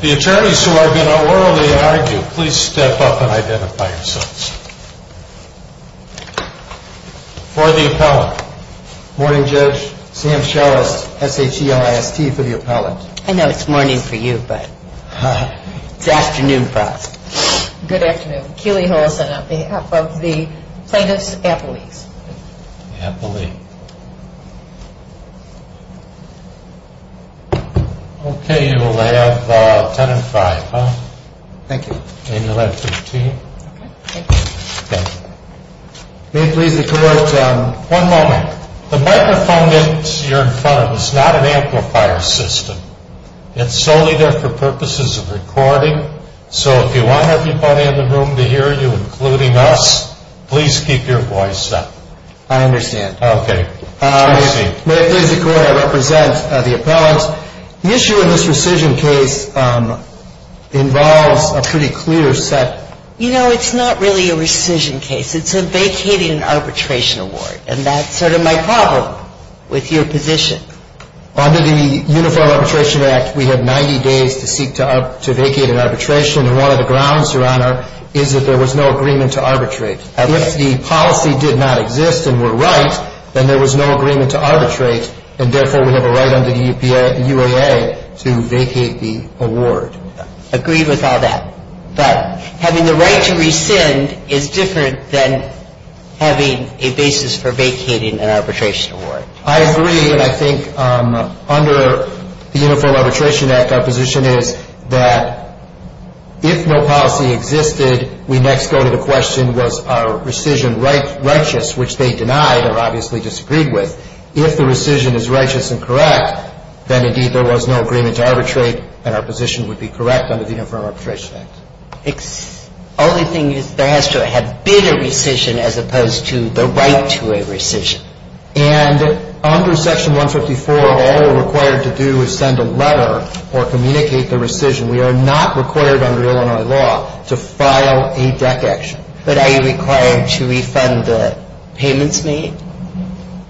The attorneys who are going to orally argue, please step up and identify yourselves. For the appellant, Morning Judge Sam Scheles, S-H-E-L-I-S-T, for the appellant. I know it's morning for you, but it's afternoon for us. Good afternoon. Keely Hollison on behalf of the plaintiff's appellees. Appellee. Okay, you will have 10 and 5. Thank you. And you'll have 15. Okay, thank you. Okay. May it please the Court, one moment. The microphone that you're in front of is not an amplifier system. It's solely there for purposes of recording. So if you want everybody in the room to hear you, including us, please keep your voice up. I understand. Okay. May it please the Court, I represent the appellant. The issue in this rescission case involves a pretty clear set. You know, it's not really a rescission case. It's a vacated arbitration award, and that's sort of my problem with your position. Under the Uniform Arbitration Act, we have 90 days to seek to vacate an arbitration, and one of the grounds, Your Honor, is that there was no agreement to arbitrate. If the policy did not exist and were right, then there was no agreement to arbitrate, and therefore we have a right under the UAA to vacate the award. Agreed with all that. But having the right to rescind is different than having a basis for vacating an arbitration award. I agree, and I think under the Uniform Arbitration Act our position is that if no policy existed, we next go to the question was our rescission righteous, which they denied or obviously disagreed with. If the rescission is righteous and correct, then indeed there was no agreement to arbitrate, and our position would be correct under the Uniform Arbitration Act. Only thing is there has to have been a rescission as opposed to the right to a rescission. And under Section 154, all we're required to do is send a letter or communicate the rescission. We are not required under Illinois law to file a DEC action. But are you required to refund the payments made?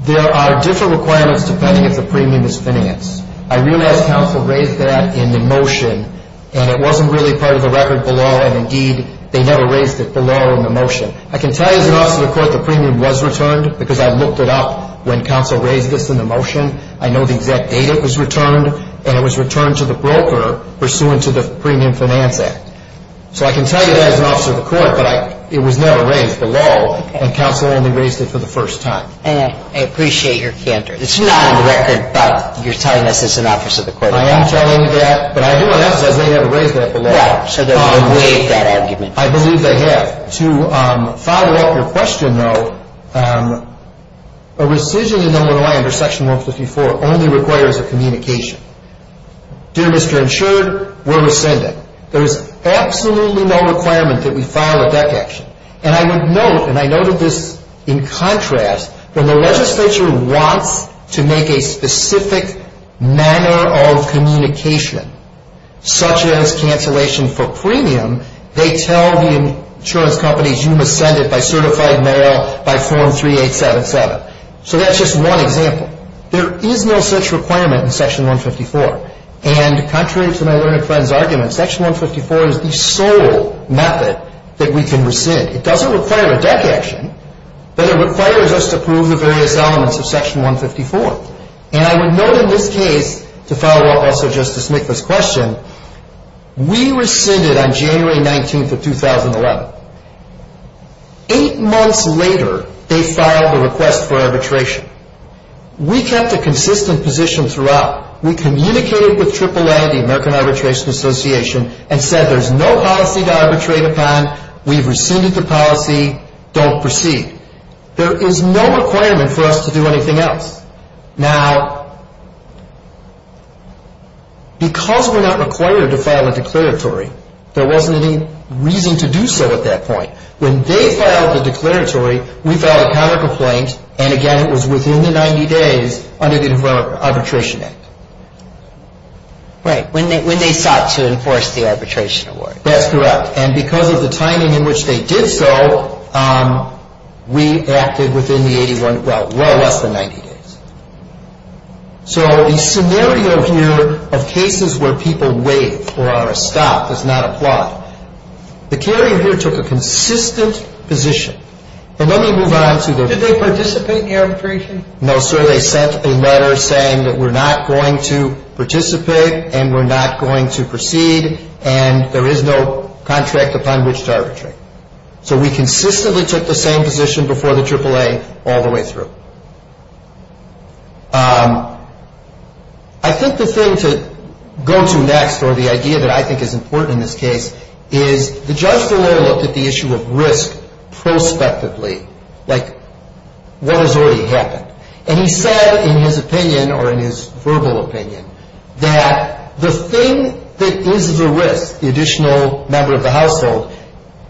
There are different requirements depending if the premium is finance. I realize counsel raised that in the motion, and it wasn't really part of the record below, and indeed they never raised it below in the motion. I can tell you as an officer of the court the premium was returned because I looked it up when counsel raised this in the motion. I know the exact date it was returned, and it was returned to the broker pursuant to the Premium Finance Act. So I can tell you that as an officer of the court, but it was never raised below, and counsel only raised it for the first time. I appreciate your candor. It's not on the record, but you're telling us as an officer of the court. I am telling you that, but I do want to emphasize they never raised that below. Right, so they've waived that argument. I believe they have. To follow up your question, though, a rescission in Illinois under Section 154 only requires a communication. Dear Mr. Insured, we're rescinding. There is absolutely no requirement that we file a DEC action. And I would note, and I noted this in contrast, when the legislature wants to make a specific manner of communication, such as cancellation for premium, they tell the insurance companies you must send it by certified mail, by form 3877. So that's just one example. There is no such requirement in Section 154. And contrary to my learned friend's argument, Section 154 is the sole method that we can rescind. It doesn't require a DEC action, but it requires us to prove the various elements of Section 154. And I would note in this case, to follow up also Justice Nicklaus' question, we rescinded on January 19th of 2011. Eight months later, they filed a request for arbitration. We kept a consistent position throughout. We communicated with AAA, the American Arbitration Association, and said there's no policy to arbitrate upon. We've rescinded the policy. Don't proceed. There is no requirement for us to do anything else. Now, because we're not required to file a declaratory, there wasn't any reason to do so at that point. When they filed the declaratory, we filed a counter complaint. And again, it was within the 90 days under the Arbitration Act. Right. When they sought to enforce the arbitration award. That's correct. And because of the timing in which they did so, we acted within the 81, well, well less than 90 days. So the scenario here of cases where people waive or are stopped does not apply. The carrier here took a consistent position. But let me move on to the... Did they participate in the arbitration? No, sir. They sent a letter saying that we're not going to participate and we're not going to proceed and there is no contract upon which to arbitrate. So we consistently took the same position before the AAA all the way through. I think the thing to go to next, or the idea that I think is important in this case, is the judge DeLoy looked at the issue of risk prospectively, like what has already happened. And he said in his opinion, or in his verbal opinion, that the thing that is the risk, the additional member of the household,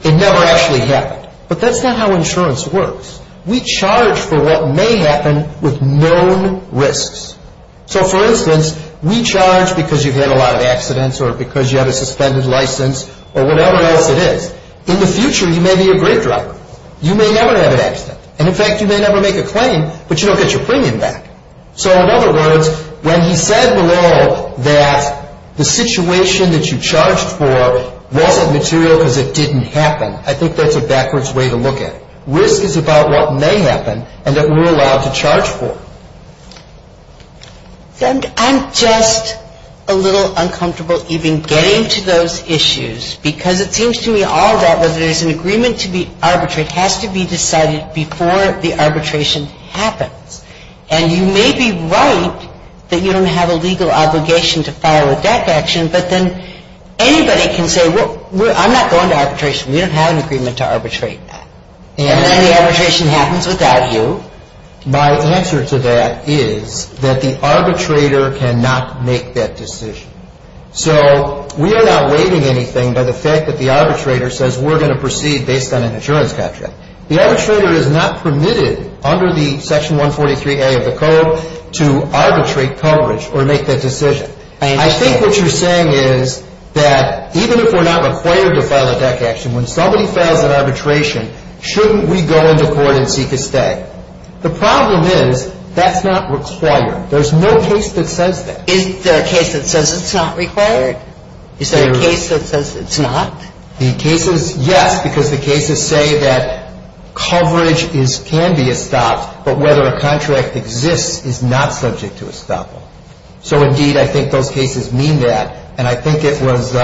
it never actually happened. But that's not how insurance works. We charge for what may happen with known risks. So, for instance, we charge because you've had a lot of accidents or because you have a suspended license or whatever else it is. In the future, you may be a great driver. You may never have an accident. And, in fact, you may never make a claim, but you don't get your premium back. So, in other words, when he said below that the situation that you charged for wasn't material because it didn't happen, I think that's a backwards way to look at it. Risk is about what may happen and that we're allowed to charge for. And I'm just a little uncomfortable even getting to those issues because it seems to me all of that, because there's an agreement to be arbitrated. It has to be decided before the arbitration happens. And you may be right that you don't have a legal obligation to file a DEC action, but then anybody can say, well, I'm not going to arbitration. We don't have an agreement to arbitrate that. And then the arbitration happens without you. My answer to that is that the arbitrator cannot make that decision. So we are not waiving anything by the fact that the arbitrator says we're going to proceed based on an insurance capture. The arbitrator is not permitted under the Section 143A of the code to arbitrate coverage or make that decision. I think what you're saying is that even if we're not required to file a DEC action, when somebody fails an arbitration, shouldn't we go into court and seek a stay? The problem is that's not required. There's no case that says that. Is there a case that says it's not required? Is there a case that says it's not? The cases, yes, because the cases say that coverage can be estopped, but whether a contract exists is not subject to estoppel. So, indeed, I think those cases mean that. And I think it was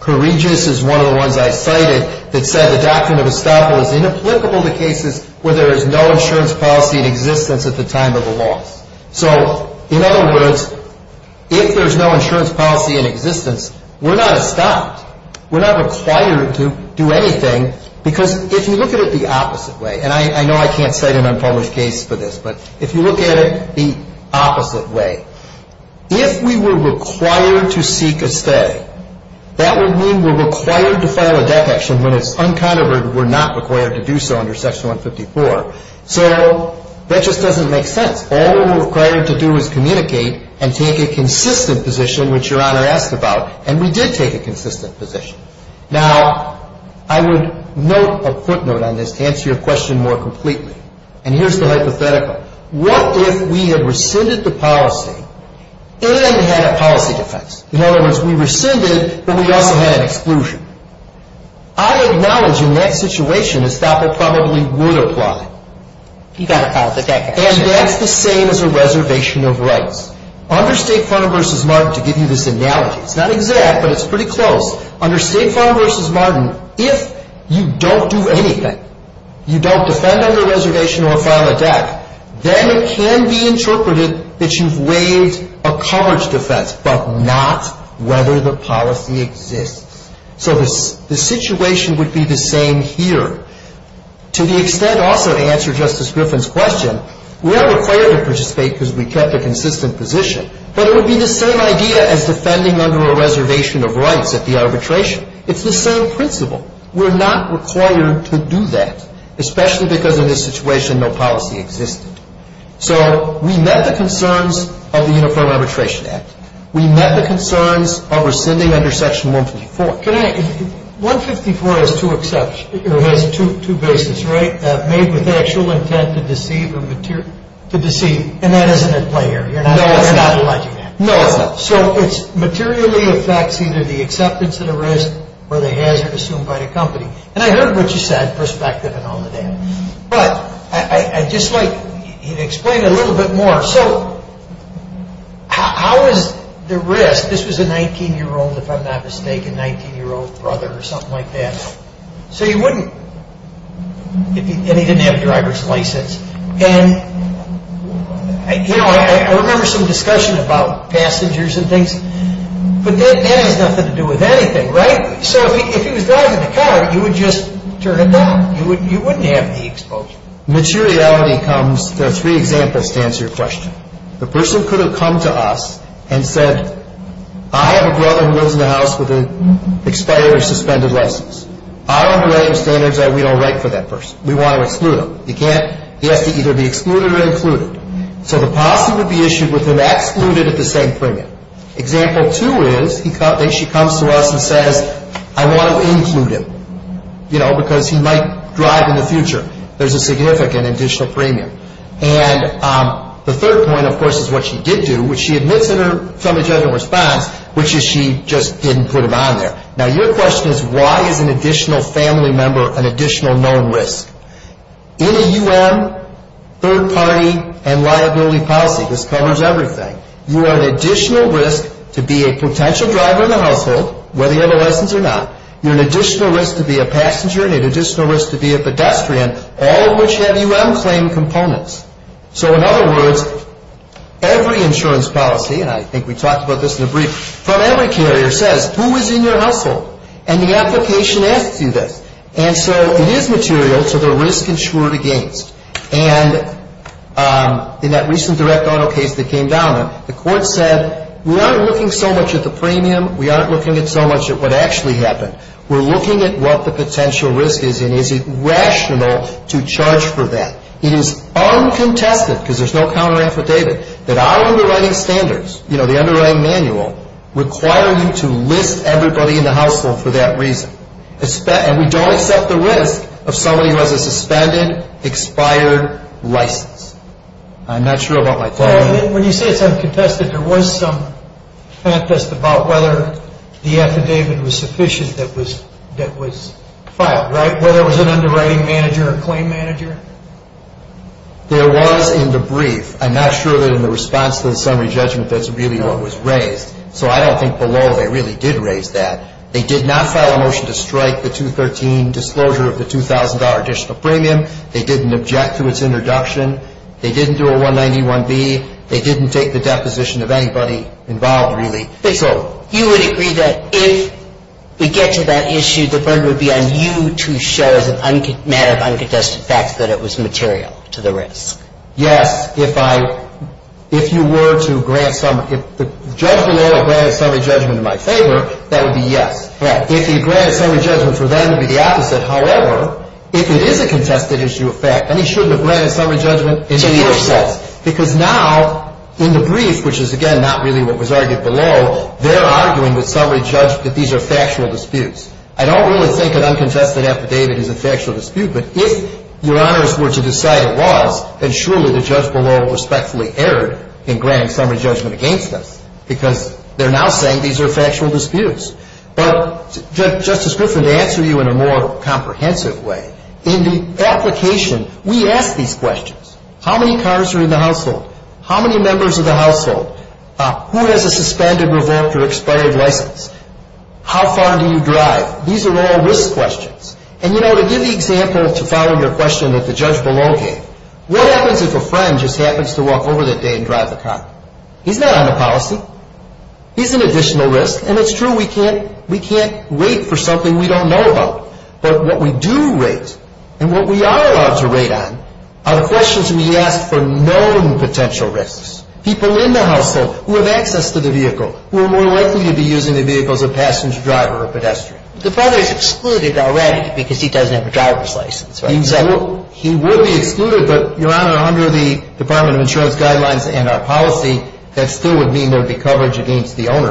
Kourigis is one of the ones I cited that said the doctrine of estoppel is inapplicable to cases where there is no insurance policy in existence at the time of the loss. So, in other words, if there's no insurance policy in existence, we're not estopped. We're not required to do anything because if you look at it the opposite way, and I know I can't cite an unpublished case for this, but if you look at it the opposite way, if we were required to seek a stay, that would mean we're required to file a DEC action when it's uncontroverted and we're not required to do so under Section 154. So that just doesn't make sense. All we're required to do is communicate and take a consistent position, which Your Honor asked about, and we did take a consistent position. Now, I would note a footnote on this to answer your question more completely, and here's the hypothetical. What if we had rescinded the policy and had a policy defense? In other words, we rescinded, but we also had an exclusion. I acknowledge in that situation estoppel probably would apply. You've got to file the DEC action. And that's the same as a reservation of rights. Under State Farm v. Martin, to give you this analogy, it's not exact, but it's pretty close. Under State Farm v. Martin, if you don't do anything, you don't defend under a reservation or file a DEC, then it can be interpreted that you've waived a college defense, but not whether the policy exists. So the situation would be the same here. To the extent also to answer Justice Griffin's question, we're required to participate because we kept a consistent position, but it would be the same idea as defending under a reservation of rights at the arbitration. It's the same principle. We're not required to do that, especially because in this situation no policy existed. So we met the concerns of the Uniform Arbitration Act. We met the concerns of rescinding under Section 154. 154 has two bases, right? Made with actual intent to deceive. And that isn't at play here. You're not alleging that. No. So it materially affects either the acceptance of the risk or the hazard assumed by the company. And I heard what you said, perspective and all of that. But I'd just like you to explain a little bit more. So how is the risk? This was a 19-year-old, if I'm not mistaken, 19-year-old brother or something like that. And he didn't have a driver's license. And I remember some discussion about passengers and things. But that has nothing to do with anything, right? So if he was driving the car, you would just turn it down. You wouldn't have the exposure. Materiality comes, there are three examples to answer your question. The person could have come to us and said, I have a brother who lives in a house with an expired or suspended license. Our umbrella standards are we don't write for that person. We want to exclude him. He has to either be excluded or included. So the policy would be issued with him excluded at the same premium. Example two is he comes to us and says, I want to include him. You know, because he might drive in the future. There's a significant additional premium. And the third point, of course, is what she did do, which she admits in her felony judgment response, which is she just didn't put him on there. Now, your question is why is an additional family member an additional known risk? In a U.N., third party and liability policy, this covers everything. You are an additional risk to be a potential driver in the household, whether you have a license or not. You're an additional risk to be a passenger and an additional risk to be a pedestrian, all of which have U.N.-claimed components. So, in other words, every insurance policy, and I think we talked about this in the brief, from every carrier says, who is in your household? And the application asks you this. And so it is material to the risk-insured against. And in that recent direct auto case that came down, the court said, we aren't looking so much at the premium. We aren't looking so much at what actually happened. We're looking at what the potential risk is and is it rational to charge for that. It is uncontested, because there's no counter-affidavit, that our underwriting standards, you know, the underwriting manual, require you to list everybody in the household for that reason. And we don't accept the risk of somebody who has a suspended, expired license. I'm not sure about my time. Well, when you say it's uncontested, there was some contest about whether the affidavit was sufficient that was filed, right? Whether it was an underwriting manager or a claim manager? There was in the brief. I'm not sure that in the response to the summary judgment that's really what was raised. So I don't think below they really did raise that. They did not file a motion to strike the 213 disclosure of the $2,000 additional premium. They didn't object to its introduction. They didn't do a 191B. They didn't take the deposition of anybody involved, really. They sold it. You would agree that if we get to that issue, the burden would be on you to show as a matter of uncontested fact that it was material to the risk? Yes. If I – if you were to grant summary – if the judge below granted summary judgment in my favor, that would be yes. Right. If he granted summary judgment for them, it would be the opposite. However, if it is a contested issue of fact, then he shouldn't have granted summary judgment in either sense. Because now in the brief, which is, again, not really what was argued below, they're arguing with summary judge that these are factual disputes. I don't really think an uncontested affidavit is a factual dispute. But if, Your Honors, were to decide it was, then surely the judge below respectfully erred in granting summary judgment against us because they're now saying these are factual disputes. But, Justice Griffin, to answer you in a more comprehensive way, in the application, we ask these questions. How many cars are in the household? How many members of the household? Who has a suspended, revoked, or expired license? How far do you drive? These are all risk questions. And, you know, to give the example to follow your question that the judge below gave, what happens if a friend just happens to walk over that day and drive the car? He's not on the policy. He's an additional risk. And it's true, we can't – we can't wait for something we don't know about. But what we do rate, and what we are allowed to rate on, are the questions we ask for known potential risks. People in the household who have access to the vehicle, who are more likely to be using the vehicle as a passenger, driver, or pedestrian. The father is excluded already because he doesn't have a driver's license, right? Exactly. He would be excluded, but, Your Honor, under the Department of Insurance guidelines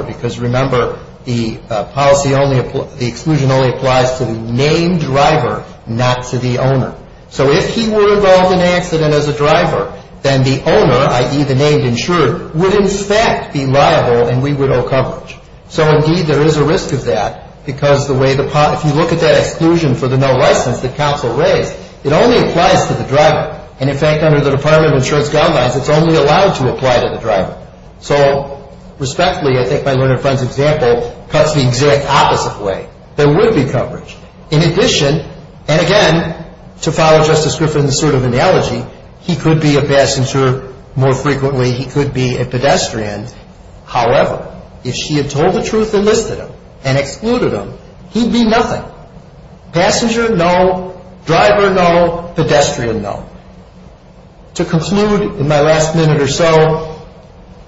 because, remember, the policy only – the exclusion only applies to the named driver, not to the owner. So if he were involved in an accident as a driver, then the owner, i.e., the named insurer, would in fact be liable and we would owe coverage. So, indeed, there is a risk of that because the way the – if you look at that exclusion for the no license that counsel raised, it only applies to the driver. And, in fact, under the Department of Insurance guidelines, it's only allowed to apply to the driver. So, respectfully, I think my learned friend's example cuts the exact opposite way. There would be coverage. In addition, and again, to follow Justice Griffin's sort of analogy, he could be a passenger more frequently. He could be a pedestrian. However, if she had told the truth and listed him and excluded him, he'd be nothing. Passenger, no. Driver, no. Pedestrian, no. To conclude, in my last minute or so,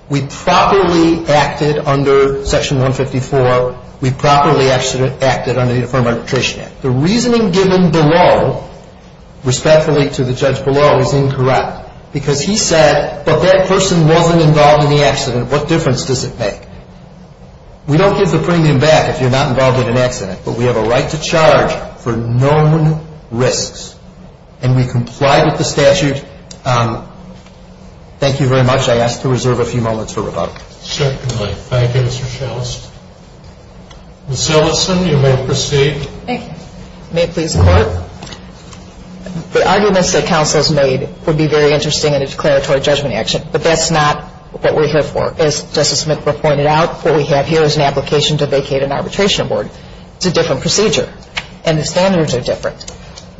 we properly acted under Section 154. We properly acted under the Affirmative Arbitration Act. The reasoning given below, respectfully to the judge below, is incorrect because he said, but that person wasn't involved in the accident. What difference does it make? We don't give the premium back if you're not involved in an accident, but we have a right to charge for known risks. And we complied with the statute. Thank you very much. I ask to reserve a few moments for rebuttal. Certainly. Thank you, Mr. Schalles. Ms. Ellison, you may proceed. Thank you. May it please the Court? The arguments that counsel has made would be very interesting in a declaratory judgment action, but that's not what we're here for. As Justice McBurr pointed out, what we have here is an application to vacate an arbitration award. It's a different procedure, and the standards are different.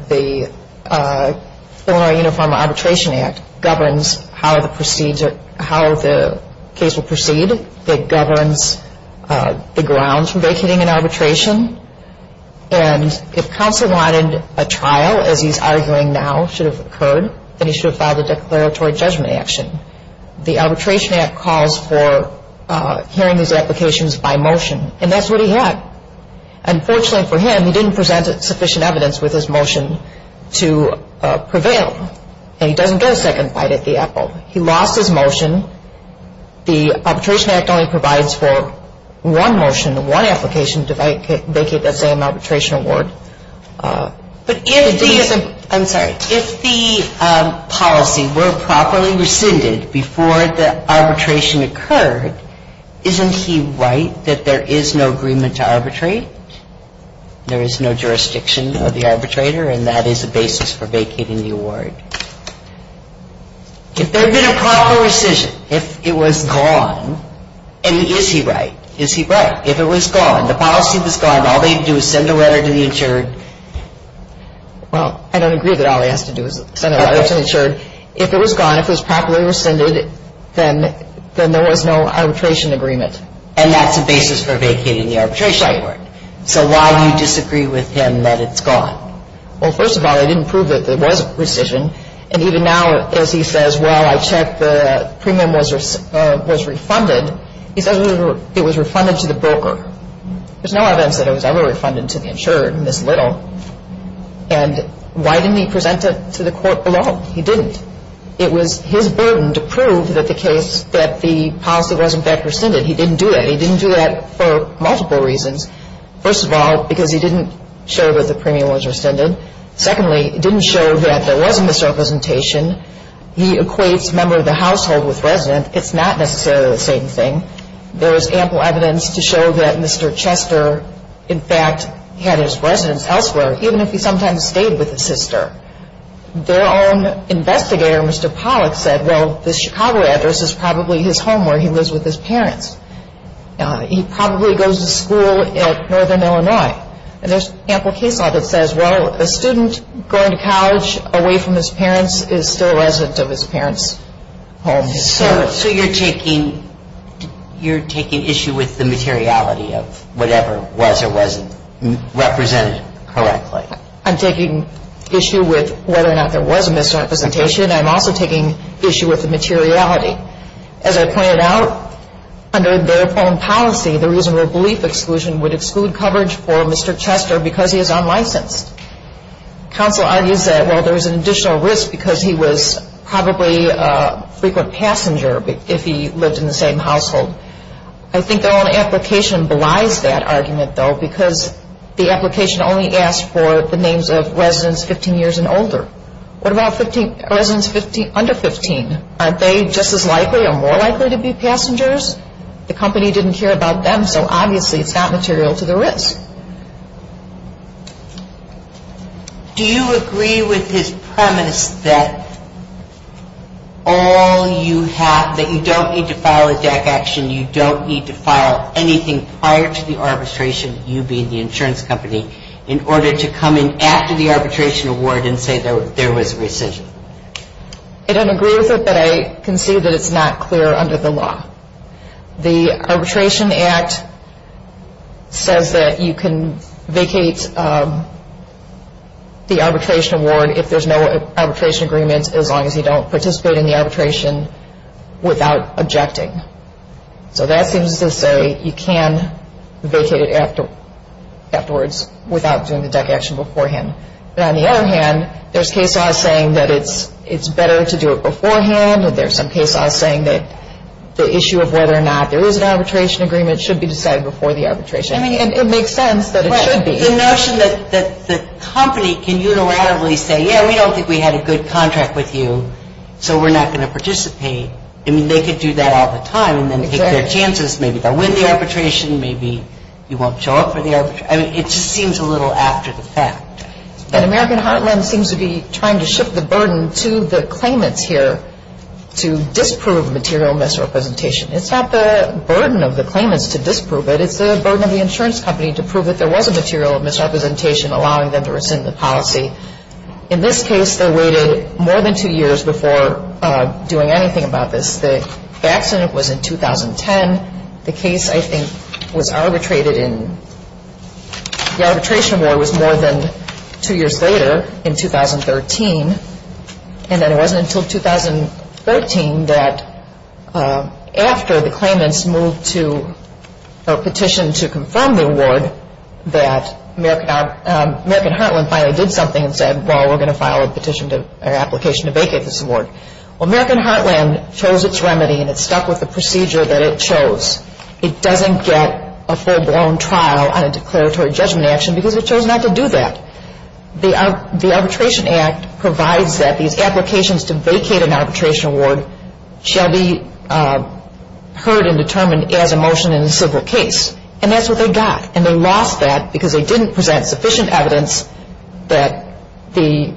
The Illinois Uniform Arbitration Act governs how the case will proceed. It governs the grounds for vacating an arbitration. And if counsel wanted a trial, as he's arguing now should have occurred, then he should have filed a declaratory judgment action. The Arbitration Act calls for hearing these applications by motion, and that's what he had. Unfortunately for him, he didn't present sufficient evidence with his motion to prevail, and he doesn't get a second bite at the apple. He lost his motion. The Arbitration Act only provides for one motion, one application to vacate that same arbitration award. But if the policy were properly rescinded before the arbitration occurred, isn't he right that there is no agreement to arbitrate? There is no jurisdiction of the arbitrator, and that is a basis for vacating the award. If there had been a proper rescission, if it was gone, and is he right? Is he right? If it was gone, the policy was gone, all they'd do is send a letter to the insured. Well, I don't agree that all he has to do is send a letter to the insured. If it was gone, if it was properly rescinded, then there was no arbitration agreement. And that's a basis for vacating the arbitration award. So why do you disagree with him that it's gone? Well, first of all, I didn't prove that there was a rescission. And even now, as he says, well, I checked the premium was refunded. He says it was refunded to the broker. There's no evidence that it was ever refunded to the insured in this little. And why didn't he present it to the court alone? He didn't. It was his burden to prove that the case that the policy was, in fact, rescinded. He didn't do that. He didn't do that for multiple reasons. First of all, because he didn't show that the premium was rescinded. Secondly, he didn't show that there was a misrepresentation. He equates member of the household with resident. It's not necessarily the same thing. There is ample evidence to show that Mr. Chester, in fact, had his residence elsewhere, even if he sometimes stayed with his sister. Their own investigator, Mr. Pollack, said, well, this Chicago address is probably his home where he lives with his parents. He probably goes to school at Northern Illinois. And there's ample case law that says, well, a student going to college away from his parents is still a resident of his parents' home. So you're taking issue with the materiality of whatever was or wasn't represented correctly? I'm taking issue with whether or not there was a misrepresentation. I'm also taking issue with the materiality. As I pointed out, under their own policy, the reasonable belief exclusion would exclude coverage for Mr. Chester because he is unlicensed. Counsel argues that, well, there is an additional risk because he was probably a frequent passenger if he lived in the same household. I think their own application belies that argument, though, because the application only asked for the names of residents 15 years and older. What about residents under 15? Aren't they just as likely or more likely to be passengers? The company didn't care about them, so obviously it's not material to the risk. Do you agree with his premise that you don't need to file a DAC action, you don't need to file anything prior to the arbitration, you being the insurance company, in order to come in after the arbitration award and say there was a rescission? I don't agree with it, but I can see that it's not clear under the law. The Arbitration Act says that you can vacate the arbitration award if there's no arbitration agreement, as long as you don't participate in the arbitration without objecting. So that seems to say you can vacate it afterwards without doing the DAC action beforehand. On the other hand, there's case laws saying that it's better to do it beforehand, or there's some case laws saying that the issue of whether or not there is an arbitration agreement should be decided before the arbitration. I mean, it makes sense that it should be. The notion that the company can unilaterally say, yeah, we don't think we had a good contract with you, so we're not going to participate. I mean, they could do that all the time and then take their chances. Maybe they'll win the arbitration, maybe you won't show up for the arbitration. I mean, it just seems a little after the fact. An American Heartland seems to be trying to shift the burden to the claimants here to disprove material misrepresentation. It's not the burden of the claimants to disprove it. It's the burden of the insurance company to prove that there was a material misrepresentation, allowing them to rescind the policy. In this case, they waited more than two years before doing anything about this. The accident was in 2010. The case, I think, was arbitrated in the arbitration war was more than two years later in 2013. And then it wasn't until 2013 that after the claimants moved to a petition to confirm the award that American Heartland finally did something and said, well, we're going to file a petition or application to vacate this award. Well, American Heartland chose its remedy and it stuck with the procedure that it chose. It doesn't get a full-blown trial on a declaratory judgment action because it chose not to do that. The Arbitration Act provides that these applications to vacate an arbitration award shall be heard and determined as a motion in a civil case. And that's what they got. And they lost that because they didn't present sufficient evidence that they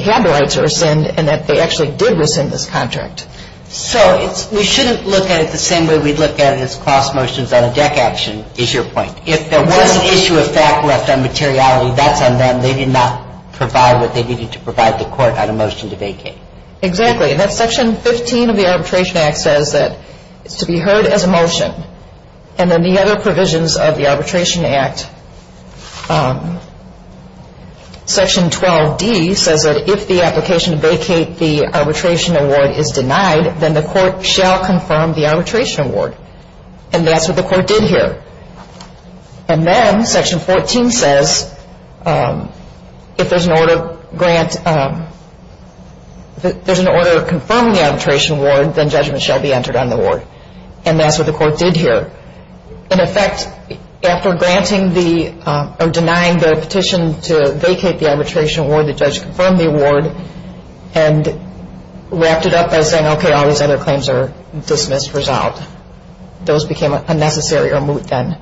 had the rights to rescind and that they actually did rescind this contract. So we shouldn't look at it the same way we'd look at it as cross motions on a deck action is your point. If there was an issue of fact left on materiality, that's on them. They did not provide what they needed to provide the court on a motion to vacate. Exactly. And that's Section 15 of the Arbitration Act says that it's to be heard as a motion. And then the other provisions of the Arbitration Act, Section 12D says that if the application to vacate the arbitration award is denied, then the court shall confirm the arbitration award. And that's what the court did here. And then Section 14 says if there's an order to confirm the arbitration award, then judgment shall be entered on the award. And that's what the court did here. In effect, after denying the petition to vacate the arbitration award, the judge confirmed the award and wrapped it up by saying, okay, all these other claims are dismissed, resolved. Those became a necessary or moot then.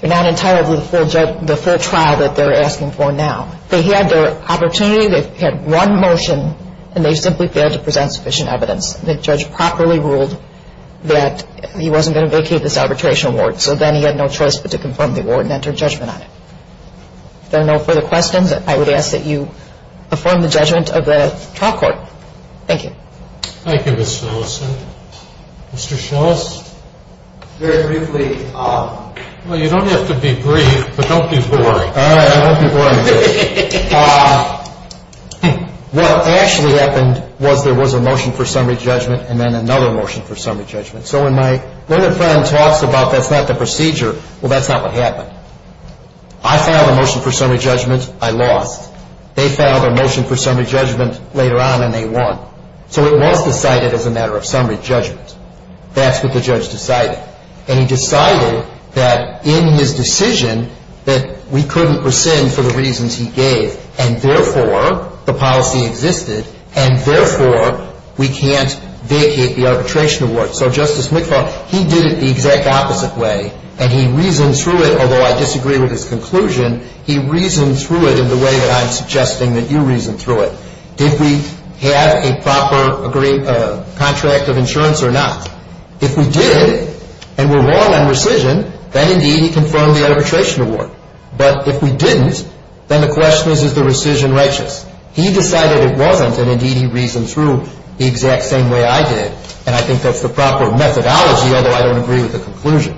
They're not entirely the full trial that they're asking for now. They had their opportunity. They had one motion, and they simply failed to present sufficient evidence. The judge properly ruled that he wasn't going to vacate this arbitration award, so then he had no choice but to confirm the award and enter judgment on it. If there are no further questions, I would ask that you perform the judgment of the trial court. Thank you. Thank you, Ms. Millicent. Mr. Schultz? Very briefly. Well, you don't have to be brief, but don't be boring. All right, I won't be boring today. What actually happened was there was a motion for summary judgment and then another motion for summary judgment. So when my friend talks about that's not the procedure, well, that's not what happened. I filed a motion for summary judgment. I lost. They filed a motion for summary judgment later on, and they won. So it was decided as a matter of summary judgment. That's what the judge decided. And he decided that in his decision that we couldn't rescind for the reasons he gave, and therefore the policy existed, and therefore we can't vacate the arbitration award. So Justice McFarland, he did it the exact opposite way, and he reasoned through it, although I disagree with his conclusion. He reasoned through it in the way that I'm suggesting that you reason through it. Did we have a proper contract of insurance or not? If we did and were wrong on rescission, then, indeed, he confirmed the arbitration award. But if we didn't, then the question is, is the rescission righteous? He decided it wasn't, and, indeed, he reasoned through the exact same way I did, and I think that's the proper methodology, although I don't agree with the conclusion.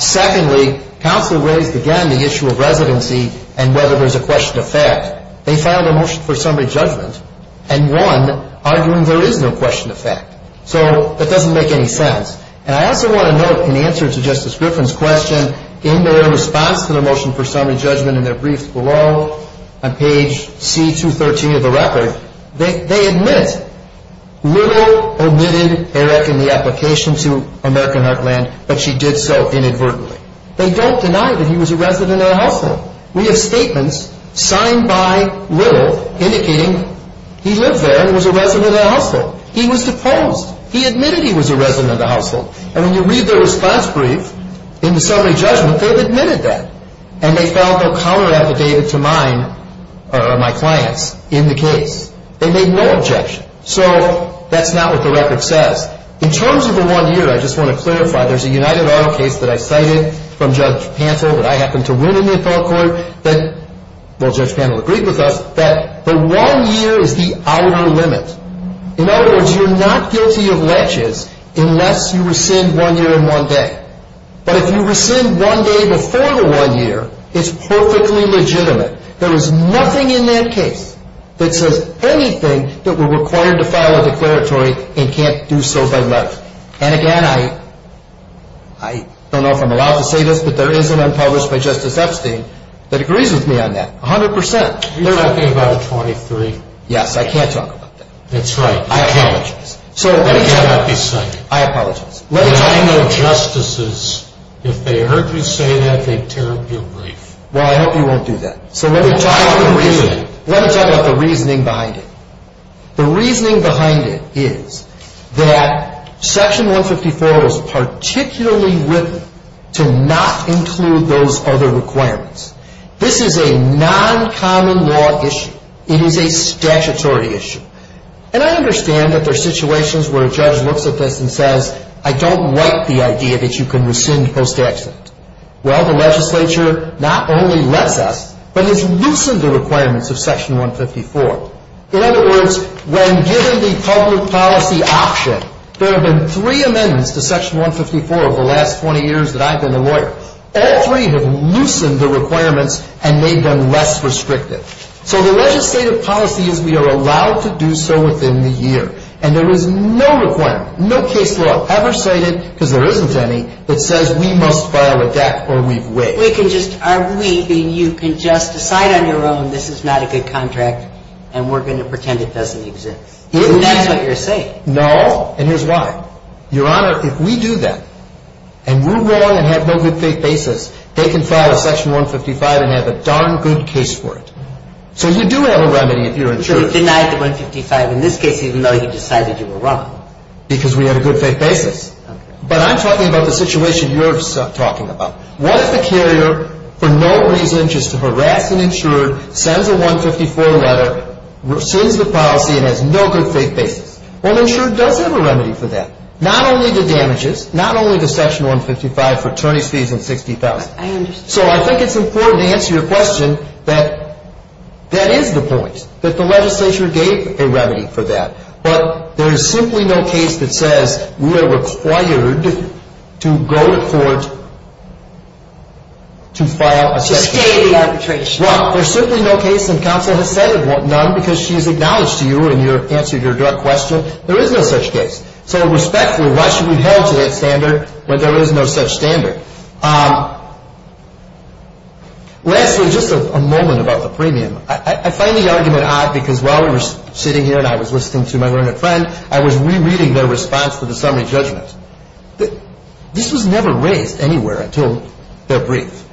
Secondly, counsel raised again the issue of residency and whether there's a question of fact. They filed a motion for summary judgment and won, arguing there is no question of fact. So that doesn't make any sense. And I also want to note, in answer to Justice Griffin's question, in their response to the motion for summary judgment in their brief below on page C213 of the record, they admit Little omitted Eric in the application to American Heartland, but she did so inadvertently. They don't deny that he was a resident at a hospital. We have statements signed by Little indicating he lived there and was a resident at a hospital. He was deposed. He admitted he was a resident at a household. And when you read their response brief in the summary judgment, they've admitted that, and they found no counter-affidavit to mine or my client's in the case. They made no objection. So that's not what the record says. In terms of the one year, I just want to clarify, there's a United Auto case that I cited from Judge Pantel that I happened to win in the appellate court that, well, Judge Pantel agreed with us, that the one year is the hour limit. In other words, you're not guilty of ledges unless you rescind one year and one day. But if you rescind one day before the one year, it's perfectly legitimate. There is nothing in that case that says anything that we're required to file a declaratory and can't do so by letter. And, again, I don't know if I'm allowed to say this, but there is an unpublished by Justice Epstein that agrees with me on that 100%. You're talking about the 23? Yes, I can't talk about that. That's right. I apologize. You cannot be cited. I apologize. But I know justices, if they heard you say that, they'd tear up your brief. Well, I hope you won't do that. So let me talk about the reasoning behind it. The reasoning behind it is that Section 154 was particularly written to not include those other requirements. This is a non-common law issue. It is a statutory issue. And I understand that there are situations where a judge looks at this and says, I don't like the idea that you can rescind post-accident. Well, the legislature not only lets us, but has loosened the requirements of Section 154. In other words, when given the public policy option, there have been three amendments to Section 154 over the last 20 years that I've been a lawyer. All three have loosened the requirements and made them less restrictive. So the legislative policy is we are allowed to do so within the year. And there is no requirement, no case law ever cited, because there isn't any, that says we must file a deck or we've waived. We can just – are we – you can just decide on your own this is not a good contract and we're going to pretend it doesn't exist. That's what you're saying. No. And here's why. Your Honor, if we do that, and we're wrong and have no good faith basis, they can file a Section 155 and have a darn good case for it. So you do have a remedy if you're insured. But you've denied the 155 in this case even though you decided you were wrong. Because we have a good faith basis. But I'm talking about the situation you're talking about. What if the carrier for no reason just to harass an insurer, sends a 154 letter, rescinds the policy and has no good faith basis? Well, the insurer does have a remedy for that. Not only the damages, not only the Section 155 for attorney's fees and $60,000. I understand. So I think it's important to answer your question that that is the point, that the legislature gave a remedy for that. But there is simply no case that says we are required to go to court to file a Section 155. To stay in the arbitration. Well, there's simply no case, and counsel has said it won't, because she's acknowledged to you in your answer to your direct question, there is no such case. So respectfully, why should we held to that standard when there is no such standard? Lastly, just a moment about the premium. I find the argument odd because while we were sitting here and I was listening to my learned friend, I was rereading their response to the summary judgment. This was never raised anywhere until their brief.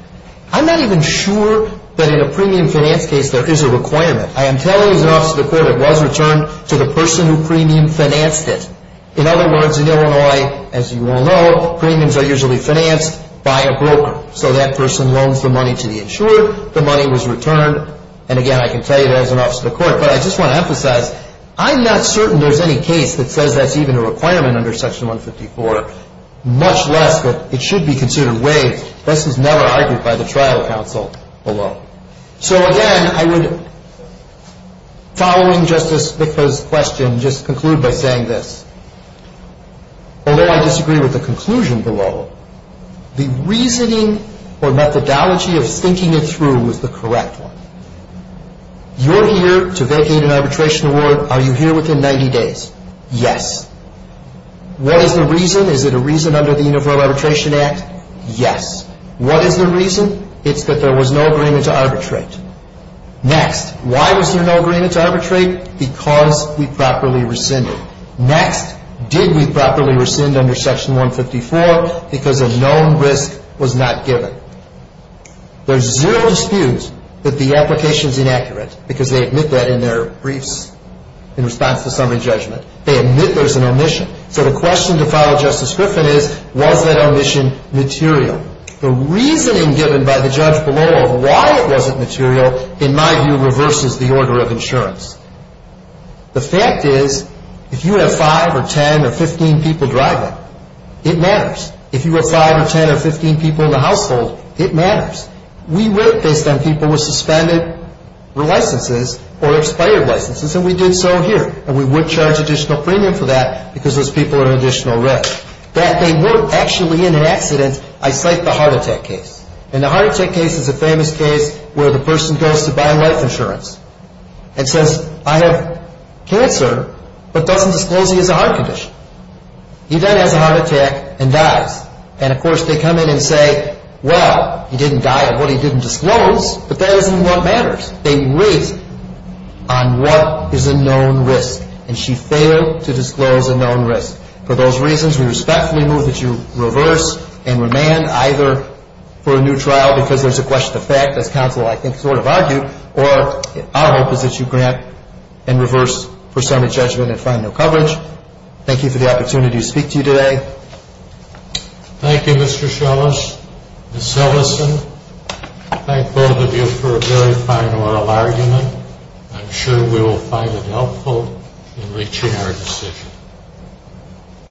I'm not even sure that in a premium finance case there is a requirement. I am telling you as an officer of the court it was returned to the person who premium financed it. In other words, in Illinois, as you all know, premiums are usually financed by a broker. So that person loans the money to the insured. The money was returned. And again, I can tell you that as an officer of the court. But I just want to emphasize, I'm not certain there's any case that says that's even a requirement under Section 154, much less that it should be considered waived. This was never argued by the trial counsel below. So again, I would, following Justice Bickford's question, just conclude by saying this. Although I disagree with the conclusion below, the reasoning or methodology of thinking it through was the correct one. You're here to vacate an arbitration award. Are you here within 90 days? Yes. What is the reason? Is it a reason under the Universal Arbitration Act? Yes. What is the reason? It's that there was no agreement to arbitrate. Next. Why was there no agreement to arbitrate? Because we properly rescinded. Next. Did we properly rescind under Section 154? Because a known risk was not given. There's zero dispute that the application's inaccurate, because they admit that in their briefs in response to summary judgment. They admit there's an omission. So the question to follow Justice Griffin is, was that omission material? The reasoning given by the judge below of why it wasn't material, in my view, reverses the order of insurance. The fact is, if you have 5 or 10 or 15 people driving, it matters. If you have 5 or 10 or 15 people in the household, it matters. We work based on people with suspended licenses or expired licenses, and we did so here. And we would charge additional premium for that, because those people are an additional risk. That they weren't actually in an accident, I cite the heart attack case. And the heart attack case is a famous case where the person goes to buy life insurance and says, I have cancer, but doesn't disclose he has a heart condition. He then has a heart attack and dies. And, of course, they come in and say, well, he didn't die of what he didn't disclose, but that isn't what matters. They reason on what is a known risk, and she failed to disclose a known risk. For those reasons, we respectfully move that you reverse and remand either for a new trial, because there's a question of fact, as counsel, I think, sort of argued, or our hope is that you grant and reverse for summary judgment and find no coverage. Thank you for the opportunity to speak to you today. Thank you, Mr. Shellis. Ms. Ellison, thank both of you for a very fine oral argument. I'm sure we will find it helpful in reaching our decision.